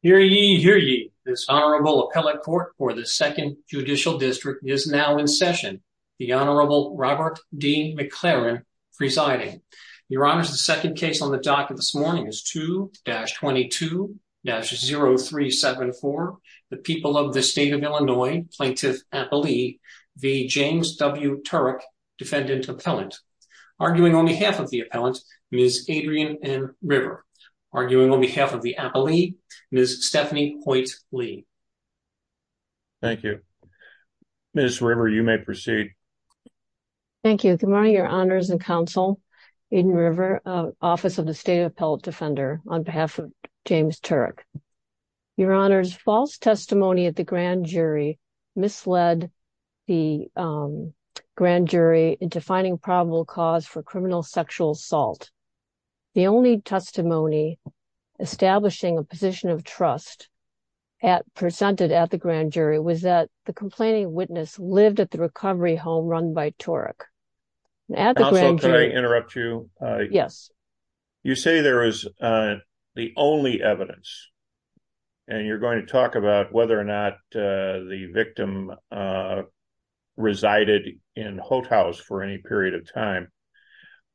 Hear ye, hear ye. This Honorable Appellate Court for the 2nd Judicial District is now in session. The Honorable Robert D. McLaren presiding. Your Honors, the second case on the docket this morning is 2-22-0374, the people of the state of Illinois, Plaintiff Appellee v. James W. Turac, Defendant Appellant. Arguing on behalf of the appellant, Ms. Adrienne M. River. Arguing on behalf of the appellee, Ms. Stephanie Hoyt Lee. Thank you. Ms. River, you may proceed. Thank you. Good morning, Your Honors and Counsel. Aiden River, Office of the State Appellate Defender, on behalf of James Turac. Your Honors, false testimony at the grand jury misled the grand jury into finding probable cause for criminal sexual assault. The only testimony establishing a position of trust presented at the grand jury was that the complaining witness lived at the recovery home run by Turac. Counsel, can I interrupt you? Yes. You say there is the only evidence, and you're going to talk about whether or not the victim resided in Hothaus for any period of time.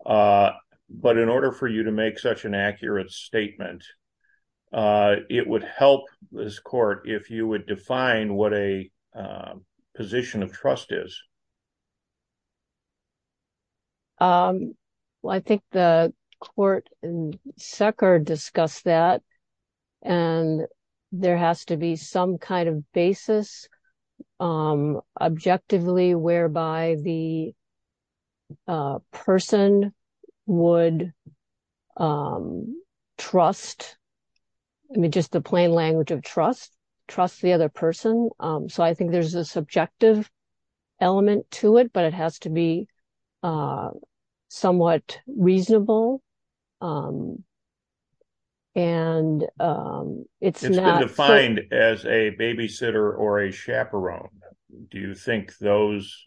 But in order for you to make such an accurate statement, it would help this court if you would define what a position of trust is. Well, I think the court and Sekar discussed that, and there has to be some kind of basis objectively whereby the person would trust, I mean, just the plain language of trust, trust the other person. So I think there's a subjective element to it, but it has to be a somewhat reasonable. And it's not defined as a babysitter or a chaperone. Do you think those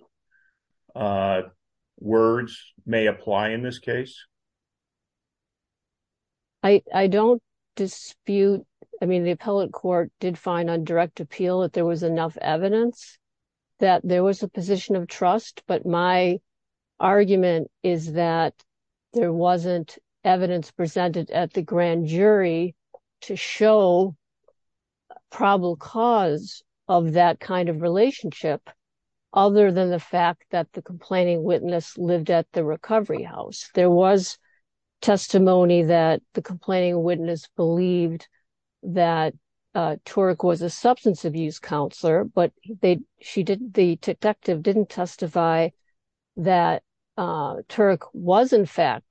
words may apply in this case? I don't dispute, I mean, the appellate court did find on direct appeal that there was enough evidence that there was a position of trust. But my argument is that there wasn't evidence presented at the grand jury to show probable cause of that kind of relationship other than the fact that the complaining witness lived at the recovery house. There was testimony that the complaining witness believed that Turek was a substance abuse counselor, but the detective didn't testify that Turek was, in fact,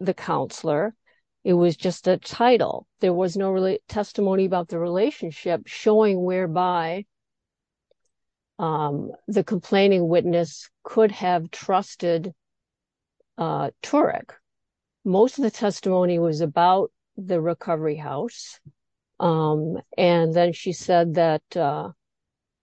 the counselor. It was just a title. There was no testimony about the relationship showing whereby the complaining witness could have trusted Turek. Most of the testimony was about the recovery house. And then she said that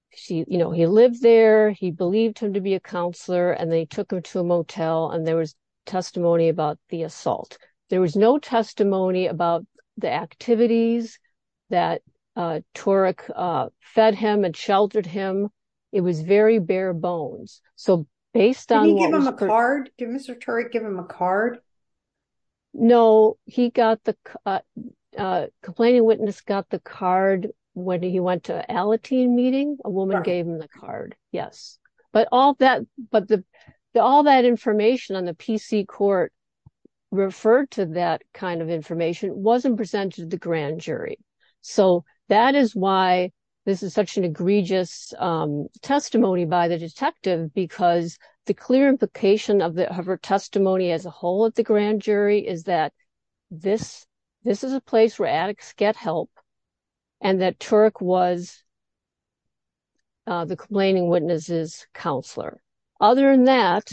he lived there, he believed him to be a counselor, and they took him to a motel, and there was testimony about the assault. There was no testimony about the activities that Turek fed him and sheltered him. It was very bare bones. Did Mr. Turek give him a card? No, the complaining witness got the card when he went to Alateen meeting. A woman gave him the card, yes. But all that information on the PC court referred to that kind of information wasn't presented to the grand jury. So that is why this is such an egregious testimony by the detective, because the clear implication of her testimony as a whole at the grand jury is that this is a place where addicts get help, and that Turek was the complaining witness's counselor. Other than that,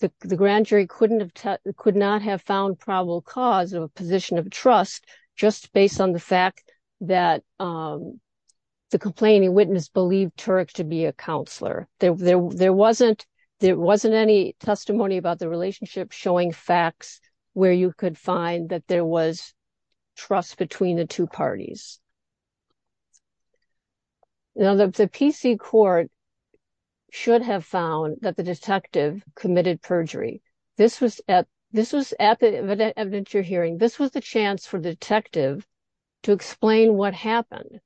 the grand jury could not have found probable cause of a position of trust just based on the fact that the complaining witness believed Turek to be a counselor. There wasn't any testimony about the relationship showing facts where you could find that there was trust between the two parties. Now, the PC court should have found that the detective committed perjury. This was at the evidentiary hearing. This was the chance for the detective to explain what happened.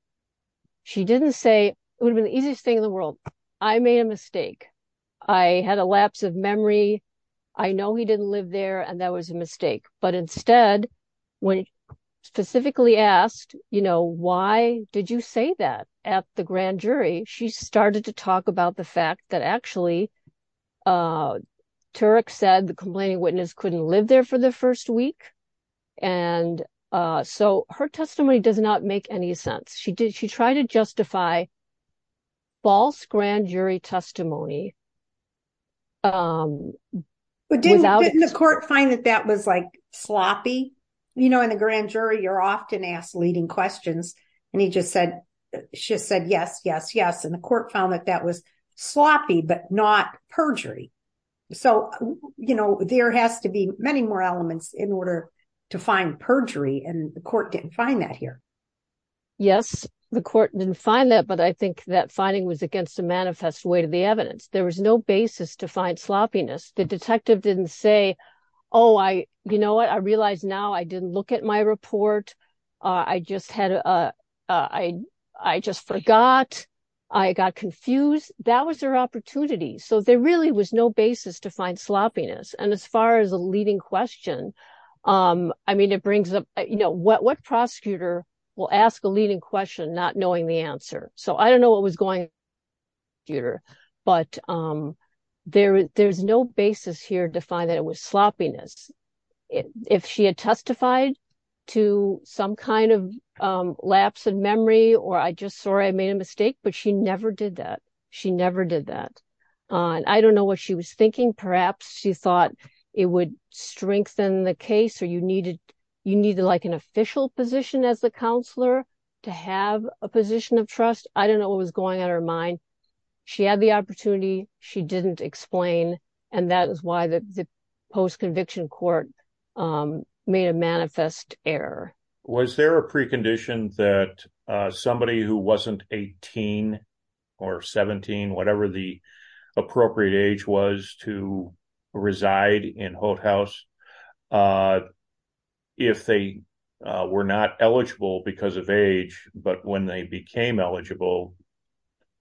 She didn't say, it would have been the easiest thing in the world, I made a mistake. I had a lapse of memory. I know he didn't live there, and that was a mistake. But instead, when specifically asked, you know, why did you say that at the grand jury? She started to talk about the fact that actually Turek said the complaining witness couldn't live there for the first week. And so her testimony does not make any sense. She tried to justify false grand jury testimony. But didn't the court find that that was like sloppy? You know, in the grand jury, you're often asked leading questions. And he just said, she said, yes, yes, yes. And the court found that that was sloppy, but not perjury. So, you know, there has to be many more elements in order to find perjury. And the court didn't find that here. Yes, the court didn't find that. But I think that finding was against the manifest way to the evidence. There was no basis to find sloppiness. The detective didn't say, oh, I, you know what, I realized now I didn't look at my report. I just had, I just forgot. I got confused. That was their opportunity. So there really was no basis to find sloppiness. And as far as a leading question, I mean, it brings up, you know, what prosecutor will ask a leading question not knowing the answer? So I don't know what was going on with the prosecutor. But there, there's no basis here to find that it was sloppiness. If she had testified to some kind of lapse in memory, or I just sorry, I made a mistake, but she never did that. She never did that. And I don't know what she was thinking. Perhaps she thought it would strengthen the case or you needed, you need to like an official position as the counselor to have a position of trust. I don't know what was going on in her mind. She had the opportunity. She didn't explain. And that is why the post conviction court made a manifest error. Was there a precondition that somebody who wasn't 18 or 17, whatever the appropriate age was to eligible?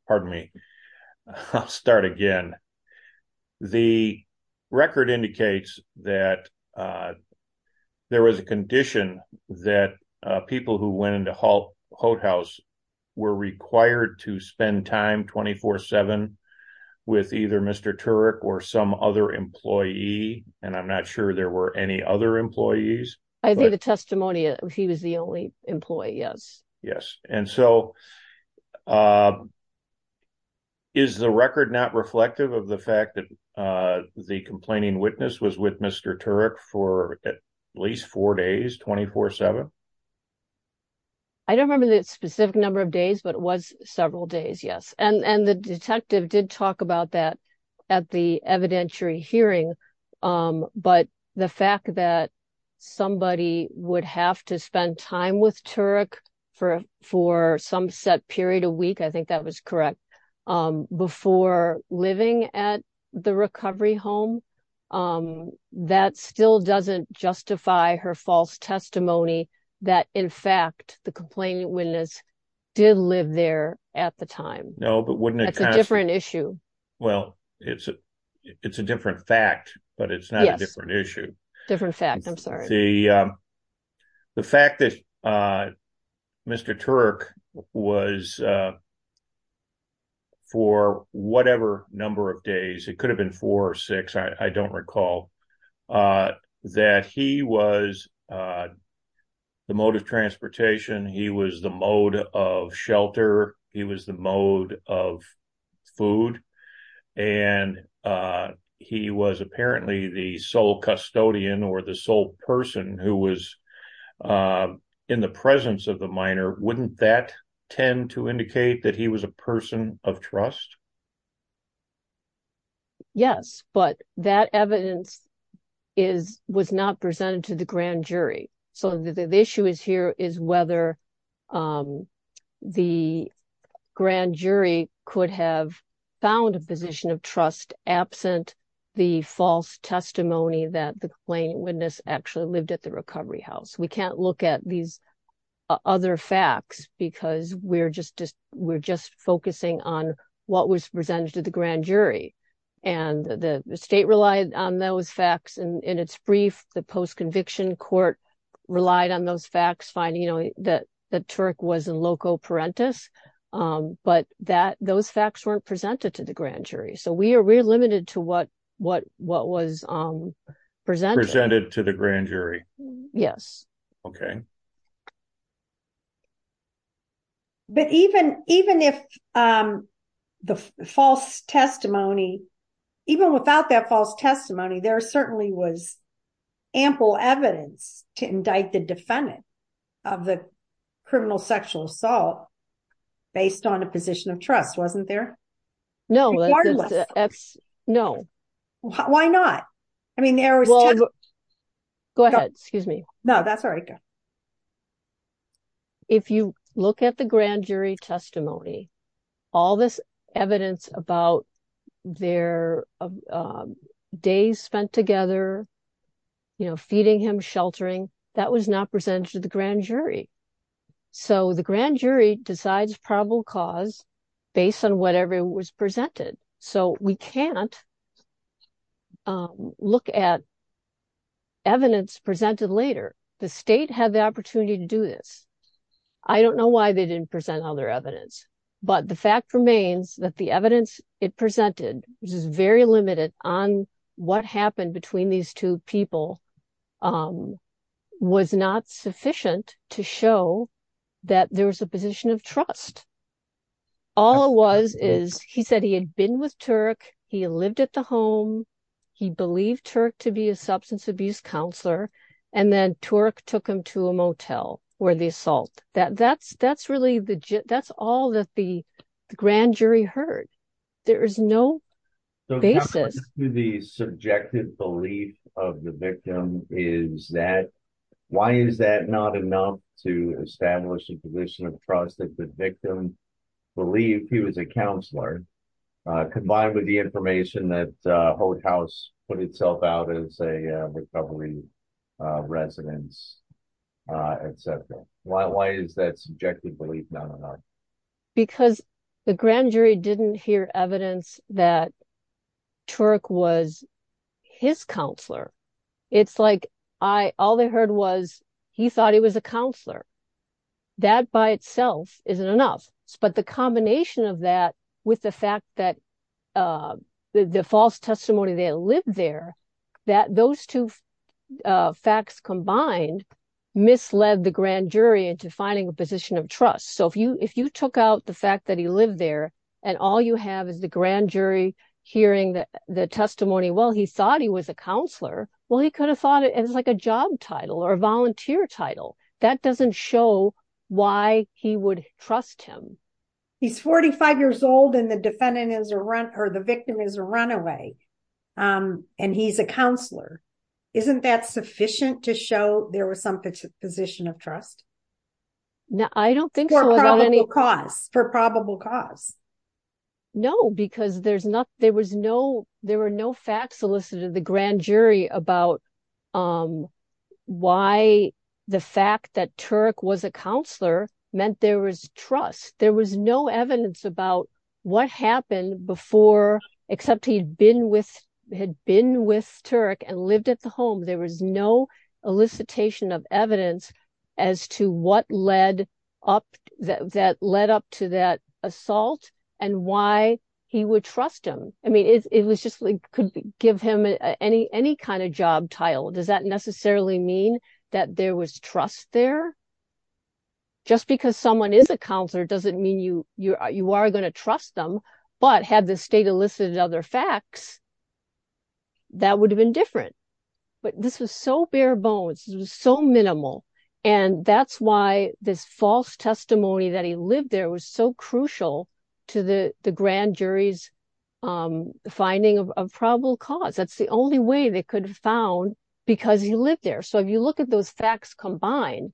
Pardon me. I'll start again. The record indicates that there was a condition that people who went into Holt House were required to spend time 24 seven with either Mr. Turek or some other employee. And I'm not sure there were any other employees. I think the testimony, he was the only employee. Yes. Yes. And so is the record not reflective of the fact that the complaining witness was with Mr. Turek for at least four days, 24 seven. I don't remember the specific number of days, but it was several days. Yes. And the detective did talk about that at the evidentiary hearing. But the fact that somebody would have to spend time with Turek for for some set period a week, I think that was correct, before living at the recovery home. That still doesn't justify her false testimony that, in fact, the complaining witness did live there at the time. No, but wouldn't a different issue? Well, it's a it's a different fact, but it's not a different issue. Different fact. I'm sorry. The the fact that Mr. Turek was for whatever number of days, it could have been four or six. I don't recall that he was the mode of transportation. He was the mode of shelter. He was the mode of food. And he was apparently the sole custodian or the sole person who was in the presence of the minor. Wouldn't that tend to indicate that he was a person of trust? Yes, but that evidence is was not presented to the grand jury. So the issue is here is whether the grand jury could have found a position of trust absent the false testimony that the complaining witness actually lived at the recovery house. We can't look at these other facts because we're just we're just focusing on what was presented to the grand jury. And the state relied on those facts. And in its brief, the post-conviction court relied on those facts, finding that the Turek was in loco parentis. But that those facts weren't presented to the grand jury. So we are we're limited to what what what was presented to the grand jury. Yes. OK. But even even if the false testimony, even without that false testimony, there certainly was ample evidence to indict the defendant of the criminal sexual assault based on a position of trust, wasn't there? No, that's no. Why not? I mean, there was. Go ahead. Excuse me. No, that's all right. If you look at the grand jury testimony, all this evidence about their of days spent together, you know, feeding him sheltering, that was not presented to the grand jury. So the grand jury decides probable cause based on whatever was presented. So we can't look at. Evidence presented later, the state had the opportunity to do this. I don't know why they didn't present all their evidence, but the fact remains that the evidence it presented was very limited on what happened between these two people was not sufficient to show that there was a position of trust. All it was is he said he had been with Turk, he lived at the home, he believed Turk to be a substance abuse counselor, and then Turk took him to a motel where the assault that that's really the that's all that the grand jury heard. There is no basis to the subjective belief of the victim is that why is that not enough to establish a position of trust that the victim believed he was a counselor combined with the information that Holt House put itself out as a recovery residence, etc. Why is that subjective belief not enough? Because the grand jury didn't hear evidence that Turk was his counselor. It's like all they heard was he thought he was a counselor. That by itself isn't enough, but the combination of that with the fact that the false testimony they lived there, that those two facts combined misled the grand jury into finding a position of trust. So if you if you took out the fact that he lived there and all you have is the grand jury hearing that the testimony, well he thought he was a counselor, well he could have thought it as like a job title or a volunteer title. That doesn't show why he would trust him. He's 45 years old and the defendant is a run or the victim is a runaway and he's a counselor. Isn't that sufficient to show there was some position of trust? No, I don't think so. For probable cause. No, because there's not there was no there were no facts solicited in the grand jury about why the fact that Turk was a counselor meant there was trust. There was no evidence about what happened before except he'd been with had been with Turk and lived at the home. There was no elicitation of evidence as to what led up that led up to that assault and why he would trust him. I mean it was just like could give him any any kind of job title. Does that necessarily mean that there was trust there? Just because someone is a counselor doesn't mean you you are going to trust them, but had the state elicited other facts that would have been different. But this was so bare bones. It was so minimal and that's why this false testimony that he lived there was so crucial to the the grand jury's finding of probable cause. That's the only way they could have found because he lived there. So if you look at those facts combined,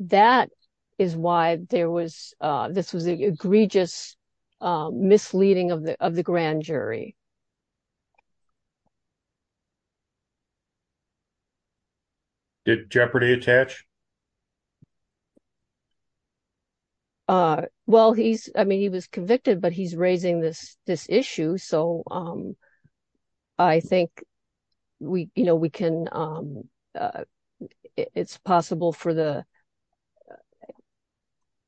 that is why there was this was an egregious misleading of the of the grand jury. Did Jeopardy attach? Well, he's I mean he was convicted, but he's raising this this issue so I think we you know we can it's possible for the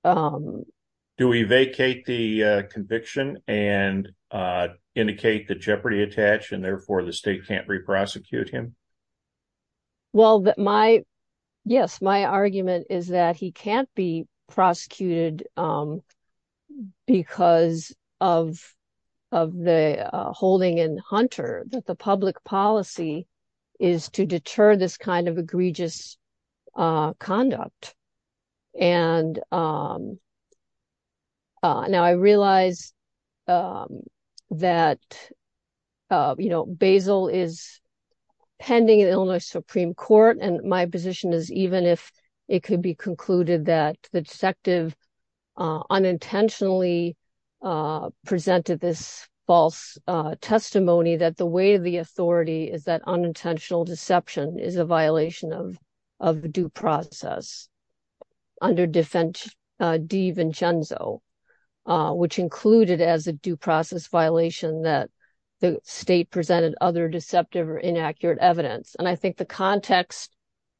do we vacate the conviction and indicate that Jeopardy attach and therefore the state can't My argument is that he can't be prosecuted because of of the holding in Hunter that the public policy is to deter this kind of egregious conduct and now I realize that you know Basil is pending in Illinois Supreme Court and my position is even if it could be concluded that the detective unintentionally presented this false testimony that the way of the authority is that unintentional deception is a violation of of due process under defense de Vincenzo, which included as a due process violation that the state presented other deceptive or inaccurate evidence and I think the context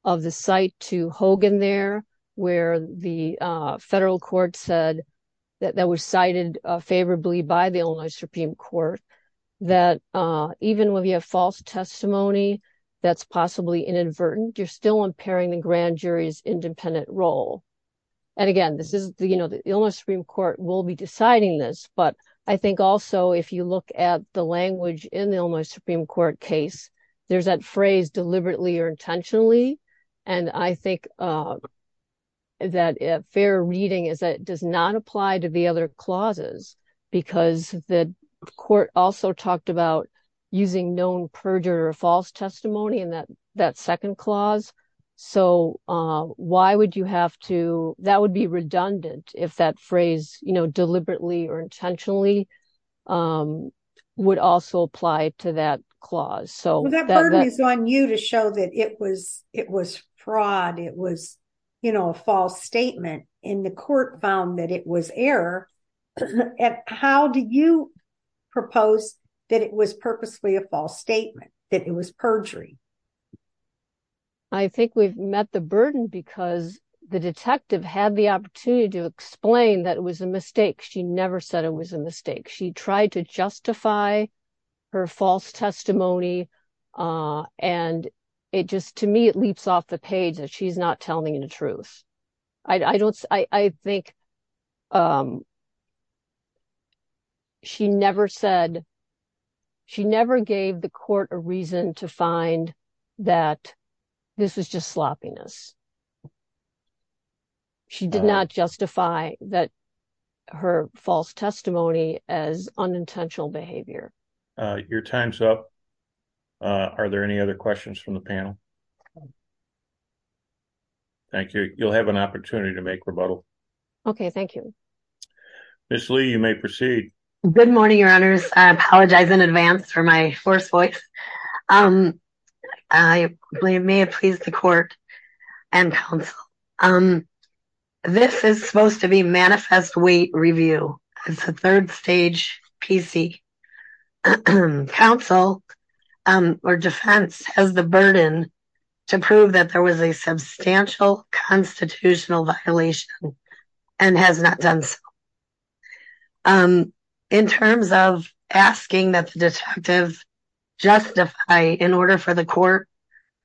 of the site to Hogan there where the federal court said that was cited favorably by the Illinois Supreme Court that even when we have false testimony that's possibly inadvertent you're still impairing the grand jury's independent role. And again this is the you know the Illinois Supreme Court will be deciding this but I think also if you look at the language in the Illinois Supreme Court case there's that phrase deliberately or intentionally and I think that a fair reading is that it does not apply to the other clauses because the court also talked about using known perjurer false testimony in that that second clause so why would you have to that would be redundant if that phrase you know deliberately or intentionally would also apply to that clause. So that burden is on you to show that it was it was fraud it was you know a false statement and the court found that it was error and how do you propose that it was purposely a false statement that it was perjury? I think we've met the burden because the detective had the opportunity to explain that it was a mistake she never said it was a mistake she tried to justify her false testimony and it just to me it leaps off the page that she's not telling the truth. I don't I think she never said she never gave the court a reason to find that this was just sloppiness. She did not justify that her false testimony as unintentional behavior. Your time's up are there any other questions from the panel? Thank you you'll have an opportunity to make rebuttal. Okay thank you. Ms. Lee you may proceed. Good morning your honors I apologize in advance for my forced voice. I may have pleased the court and counsel. This is supposed to be manifest weight to prove that there was a substantial constitutional violation and has not done so. In terms of asking that the detective justify in order for the court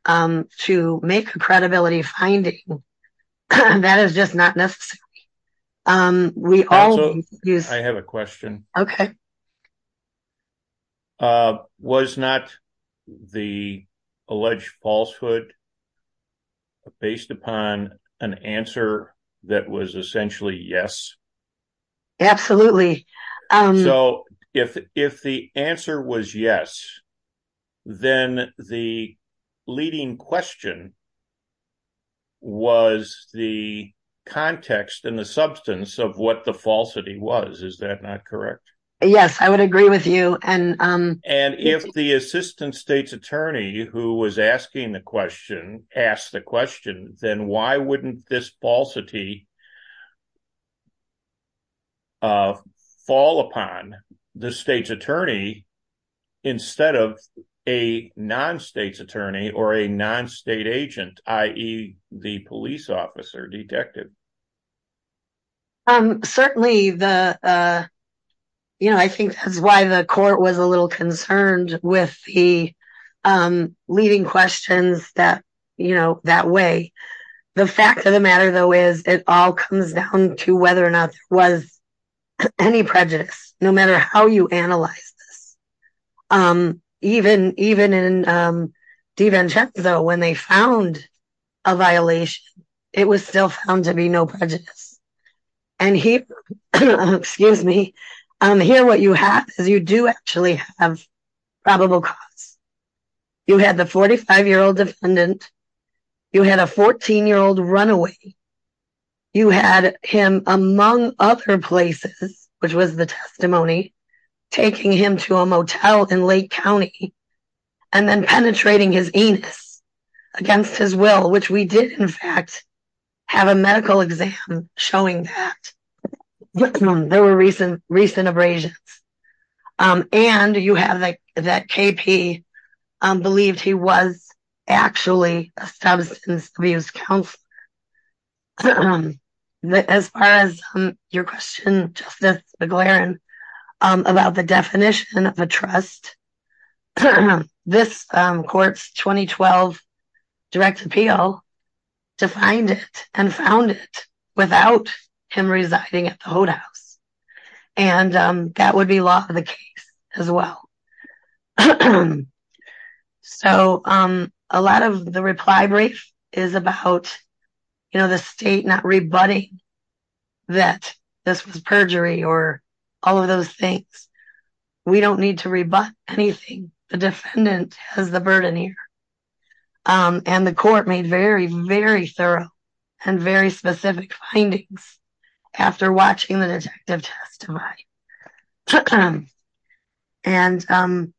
to make a credibility finding that is just not necessary. I have a question. Okay. Was not the alleged falsehood based upon an answer that was essentially yes? Absolutely. So if the answer was yes then the leading question was the context and the substance of what the falsity was is that not correct? Yes I would agree with you. And if the assistant state's attorney who was asking the question asked the question then why wouldn't this falsity fall upon the state's attorney instead of a non-state's attorney or a non-state agent i.e. the police officer detective? Certainly the you know I think that's why the court was a little concerned with the leading questions that you know that way. The fact of the matter though is it all comes down to whether or not was any prejudice no matter how you analyze this. Even in DiVincenzo when they found a violation it was still found to be no prejudice. And here what you have is you do actually have probable cause. You had the 45-year-old defendant, you had a 14-year-old runaway, you had him among other places which was the testimony taking him to a motel in Lake County and then penetrating his anus against his will which we did in fact have a medical exam showing that there were recent recent abrasions. And you have that KP believed he was actually a substance abuse counselor. As far as your question Justice McLaren about the definition of a trust, this court's 2012 direct appeal defined it and found it without him residing at the hote house and that would be law of the case as well. So a lot of the reply brief is about you know the state not rebutting that this was perjury or all of those things. We don't need to rebut anything. The defendant has the burden here and the court made very very thorough and very specific findings after watching the detective testify. And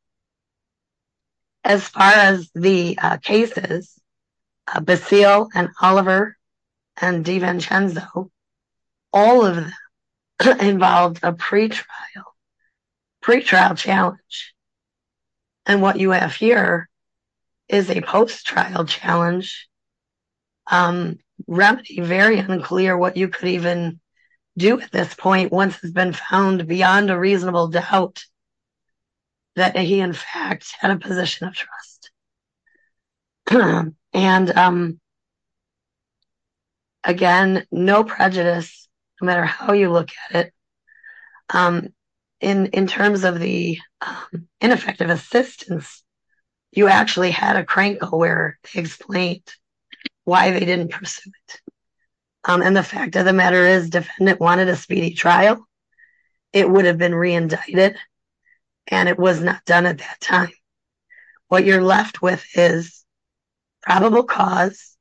as far as the cases Basile and Oliver and DiVincenzo all of them involved a pre-trial pre-trial challenge. And what you have here is a post-trial challenge remedy very unclear what you could even do at this point once has been found beyond a reasonable doubt that he in fact had a position of trust. And again no prejudice no matter how you look at it. In in terms of the ineffective assistance you actually had a crank over explained why they didn't pursue it. And the fact of the matter is defendant wanted a speedy trial. It would have been re-indicted and it was not done at that time. What you're left with is probable cause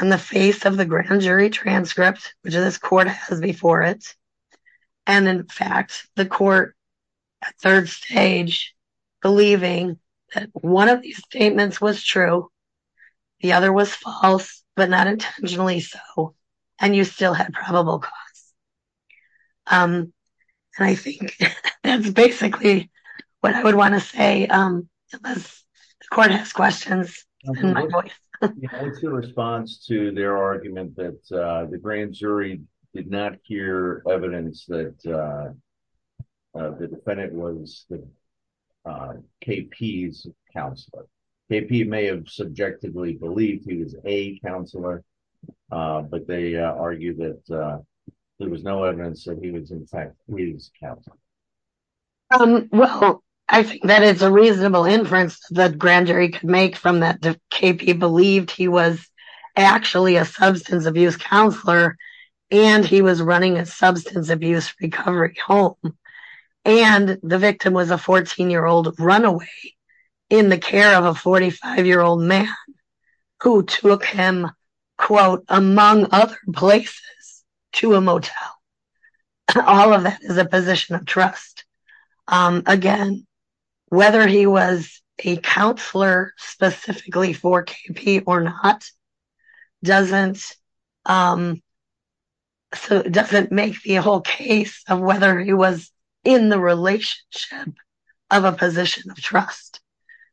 on the face of the grand jury transcript which this court has before it. And in fact the court at third stage believing that one of these statements was true the other was false but not intentionally so. And you still had probable cause. And I think that's basically what I would want to say unless the court has questions. In response to their argument that the grand jury did not hear evidence that the defendant was KP's counselor. KP may have subjectively believed he was a counselor but they argued that there was no evidence that he was in fact KP's counselor. Well I think that it's a reasonable inference that grand jury could make from that KP believed he was actually a substance abuse counselor and he was running a substance abuse recovery home. And the victim was a 14-year-old runaway in the care of a 45-year-old man who took him quote among other places to a motel. All of that is a position of trust. Again whether he was a counselor specifically for KP or not doesn't make the whole case of whether he was in the relationship of a position of trust.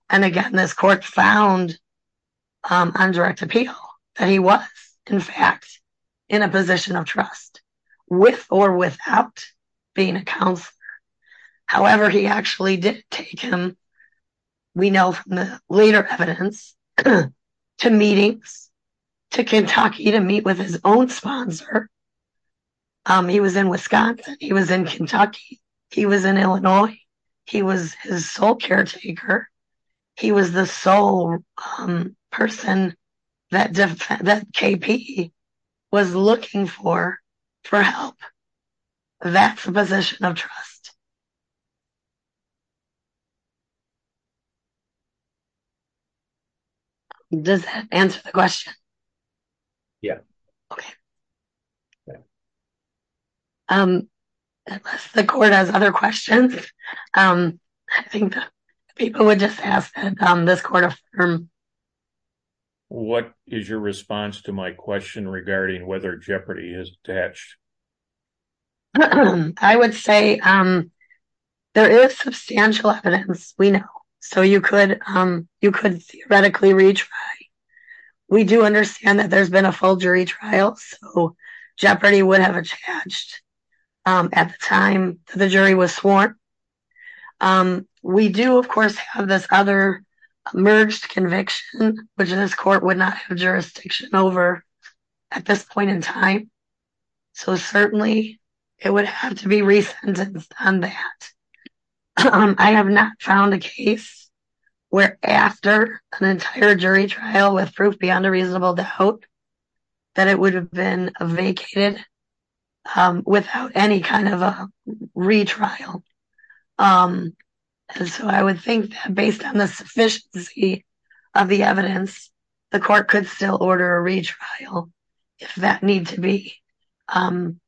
And again this court found on direct appeal that he was in fact in a position of trust with or without being a counselor. However he actually did take him we know from the later evidence to meetings to Kentucky to meet with his own sponsor. He was in Wisconsin. He was in he was the sole person that KP was looking for for help. That's a position of trust. Does that answer the question? Yeah. Okay. Unless the court has other questions. I think people would just ask that this court affirm. What is your response to my question regarding whether Jeopardy is detached? I would say there is substantial evidence we know. So you could you could theoretically retry. We do understand that there's been a full jury trial so Jeopardy would have attached at the time the jury was sworn. We do of course have this other emerged conviction which this court would not have jurisdiction over at this point in time. So certainly it would have to be beyond a reasonable to hope that it would have been vacated without any kind of a retrial. And so I would think that based on the sufficiency of the evidence the court could still order a retrial if that need to be. And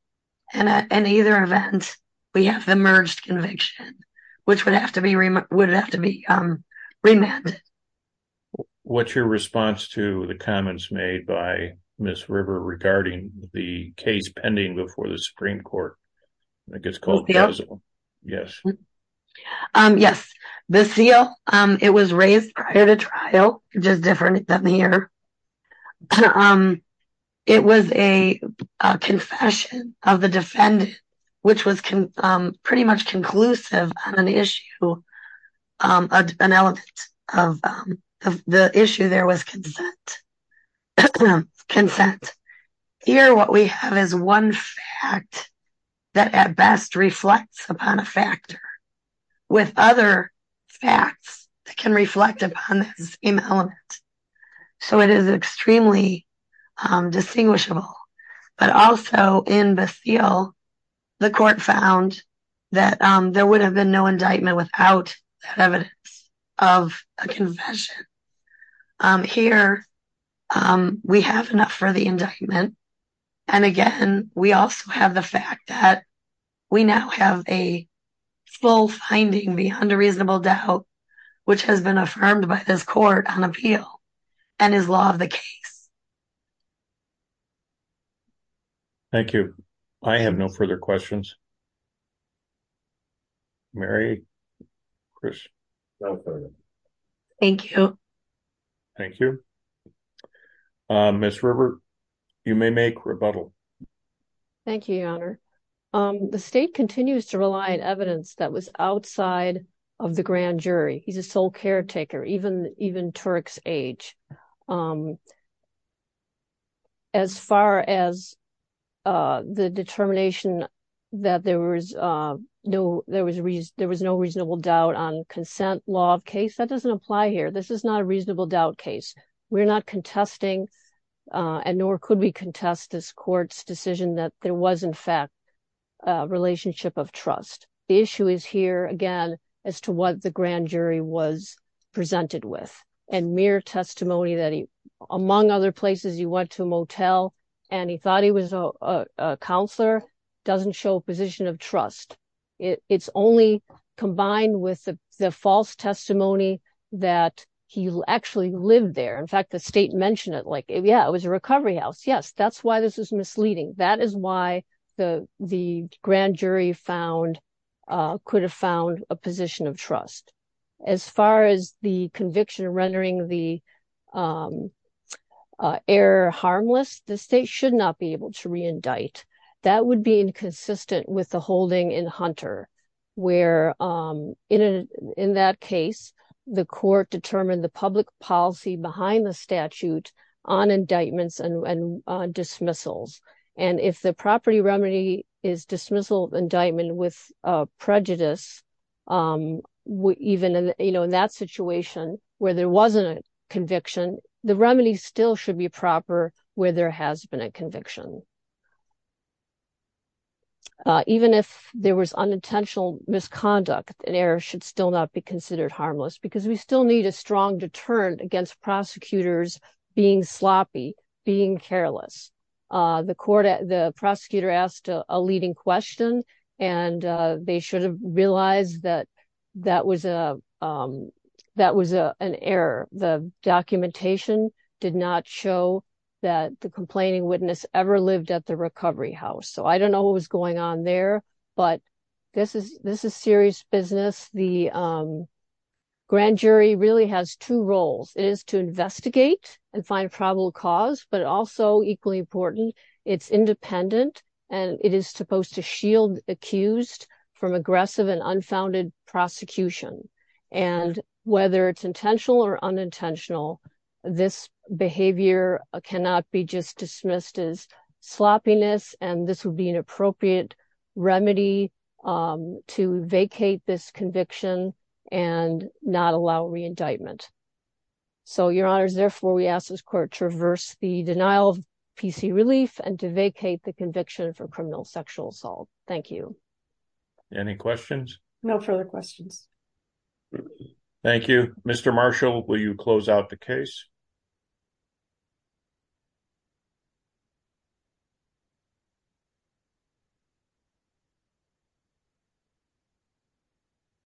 in either event we have the merged conviction which would have to be remanded. What's your response to the comments made by Ms. River regarding the case pending before the Supreme Court? Yes the seal it was raised prior to trial just different than here. Um it was a confession of the defendant which was pretty much conclusive on an issue um an element of the issue there was consent. Here what we have is one fact that at best reflects upon a factor with other facts that can reflect upon the same element. So it is extremely distinguishable. But also in the seal the court found that there would have been no indictment without evidence of a confession. Here we have enough for the indictment and again we also have the fact that we now have a full finding beyond a reasonable doubt which has been affirmed by this court on appeal and is law of the case. Thank you. I have no further questions. Mary? Chris? No further. Thank you. Thank you. Ms. River you may make rebuttal. Thank you your honor. The state continues to rely on evidence that was outside of the grand jury. He's a sole caretaker even even Turk's age. As far as the determination that there was no there was a reason there was no reasonable doubt on consent law of case that doesn't apply here. This is not a reasonable doubt case. We're not contesting and nor could we contest this court's decision that there was in fact a relationship of trust. The issue is here again as to what the grand jury was presented with and mere testimony that he among other places he went to a motel and he thought he was a counselor doesn't show a position of trust. It's only combined with the false testimony that he actually lived there. In fact the state mentioned it like yeah it was a recovery house. Yes that's why this is misleading. That is why the the grand jury found could have found a position of trust. As far as the conviction rendering the error harmless the state should not be able to reindict. That would be inconsistent with the holding in Hunter where in that case the court determined the public policy behind the statute on indictments and dismissals and if the property remedy is dismissal indictment with prejudice even in you know in that situation where there wasn't a conviction the remedy still should be proper where there has been a conviction. Even if there was unintentional misconduct an error should still not be considered harmless because we still need a strong deterrent against prosecutors being sloppy being careless. The court at the prosecutor asked a leading question and they should have realized that that was a that was a an error. The documentation did not show that the complaining witness ever lived at the recovery house. So I don't know what was going on there but this is this is serious business. The grand jury really has two roles. It is to investigate and find probable cause but also equally important it's independent and it is supposed to shield accused from aggressive and unfounded prosecution and whether it's intentional or unintentional this behavior cannot be just this conviction and not allow re-indictment. So your honors therefore we ask this court to reverse the denial of PC relief and to vacate the conviction for criminal sexual assault. Thank you. Any questions? No further questions. Thank you. Mr. Marshall will you close out the case? you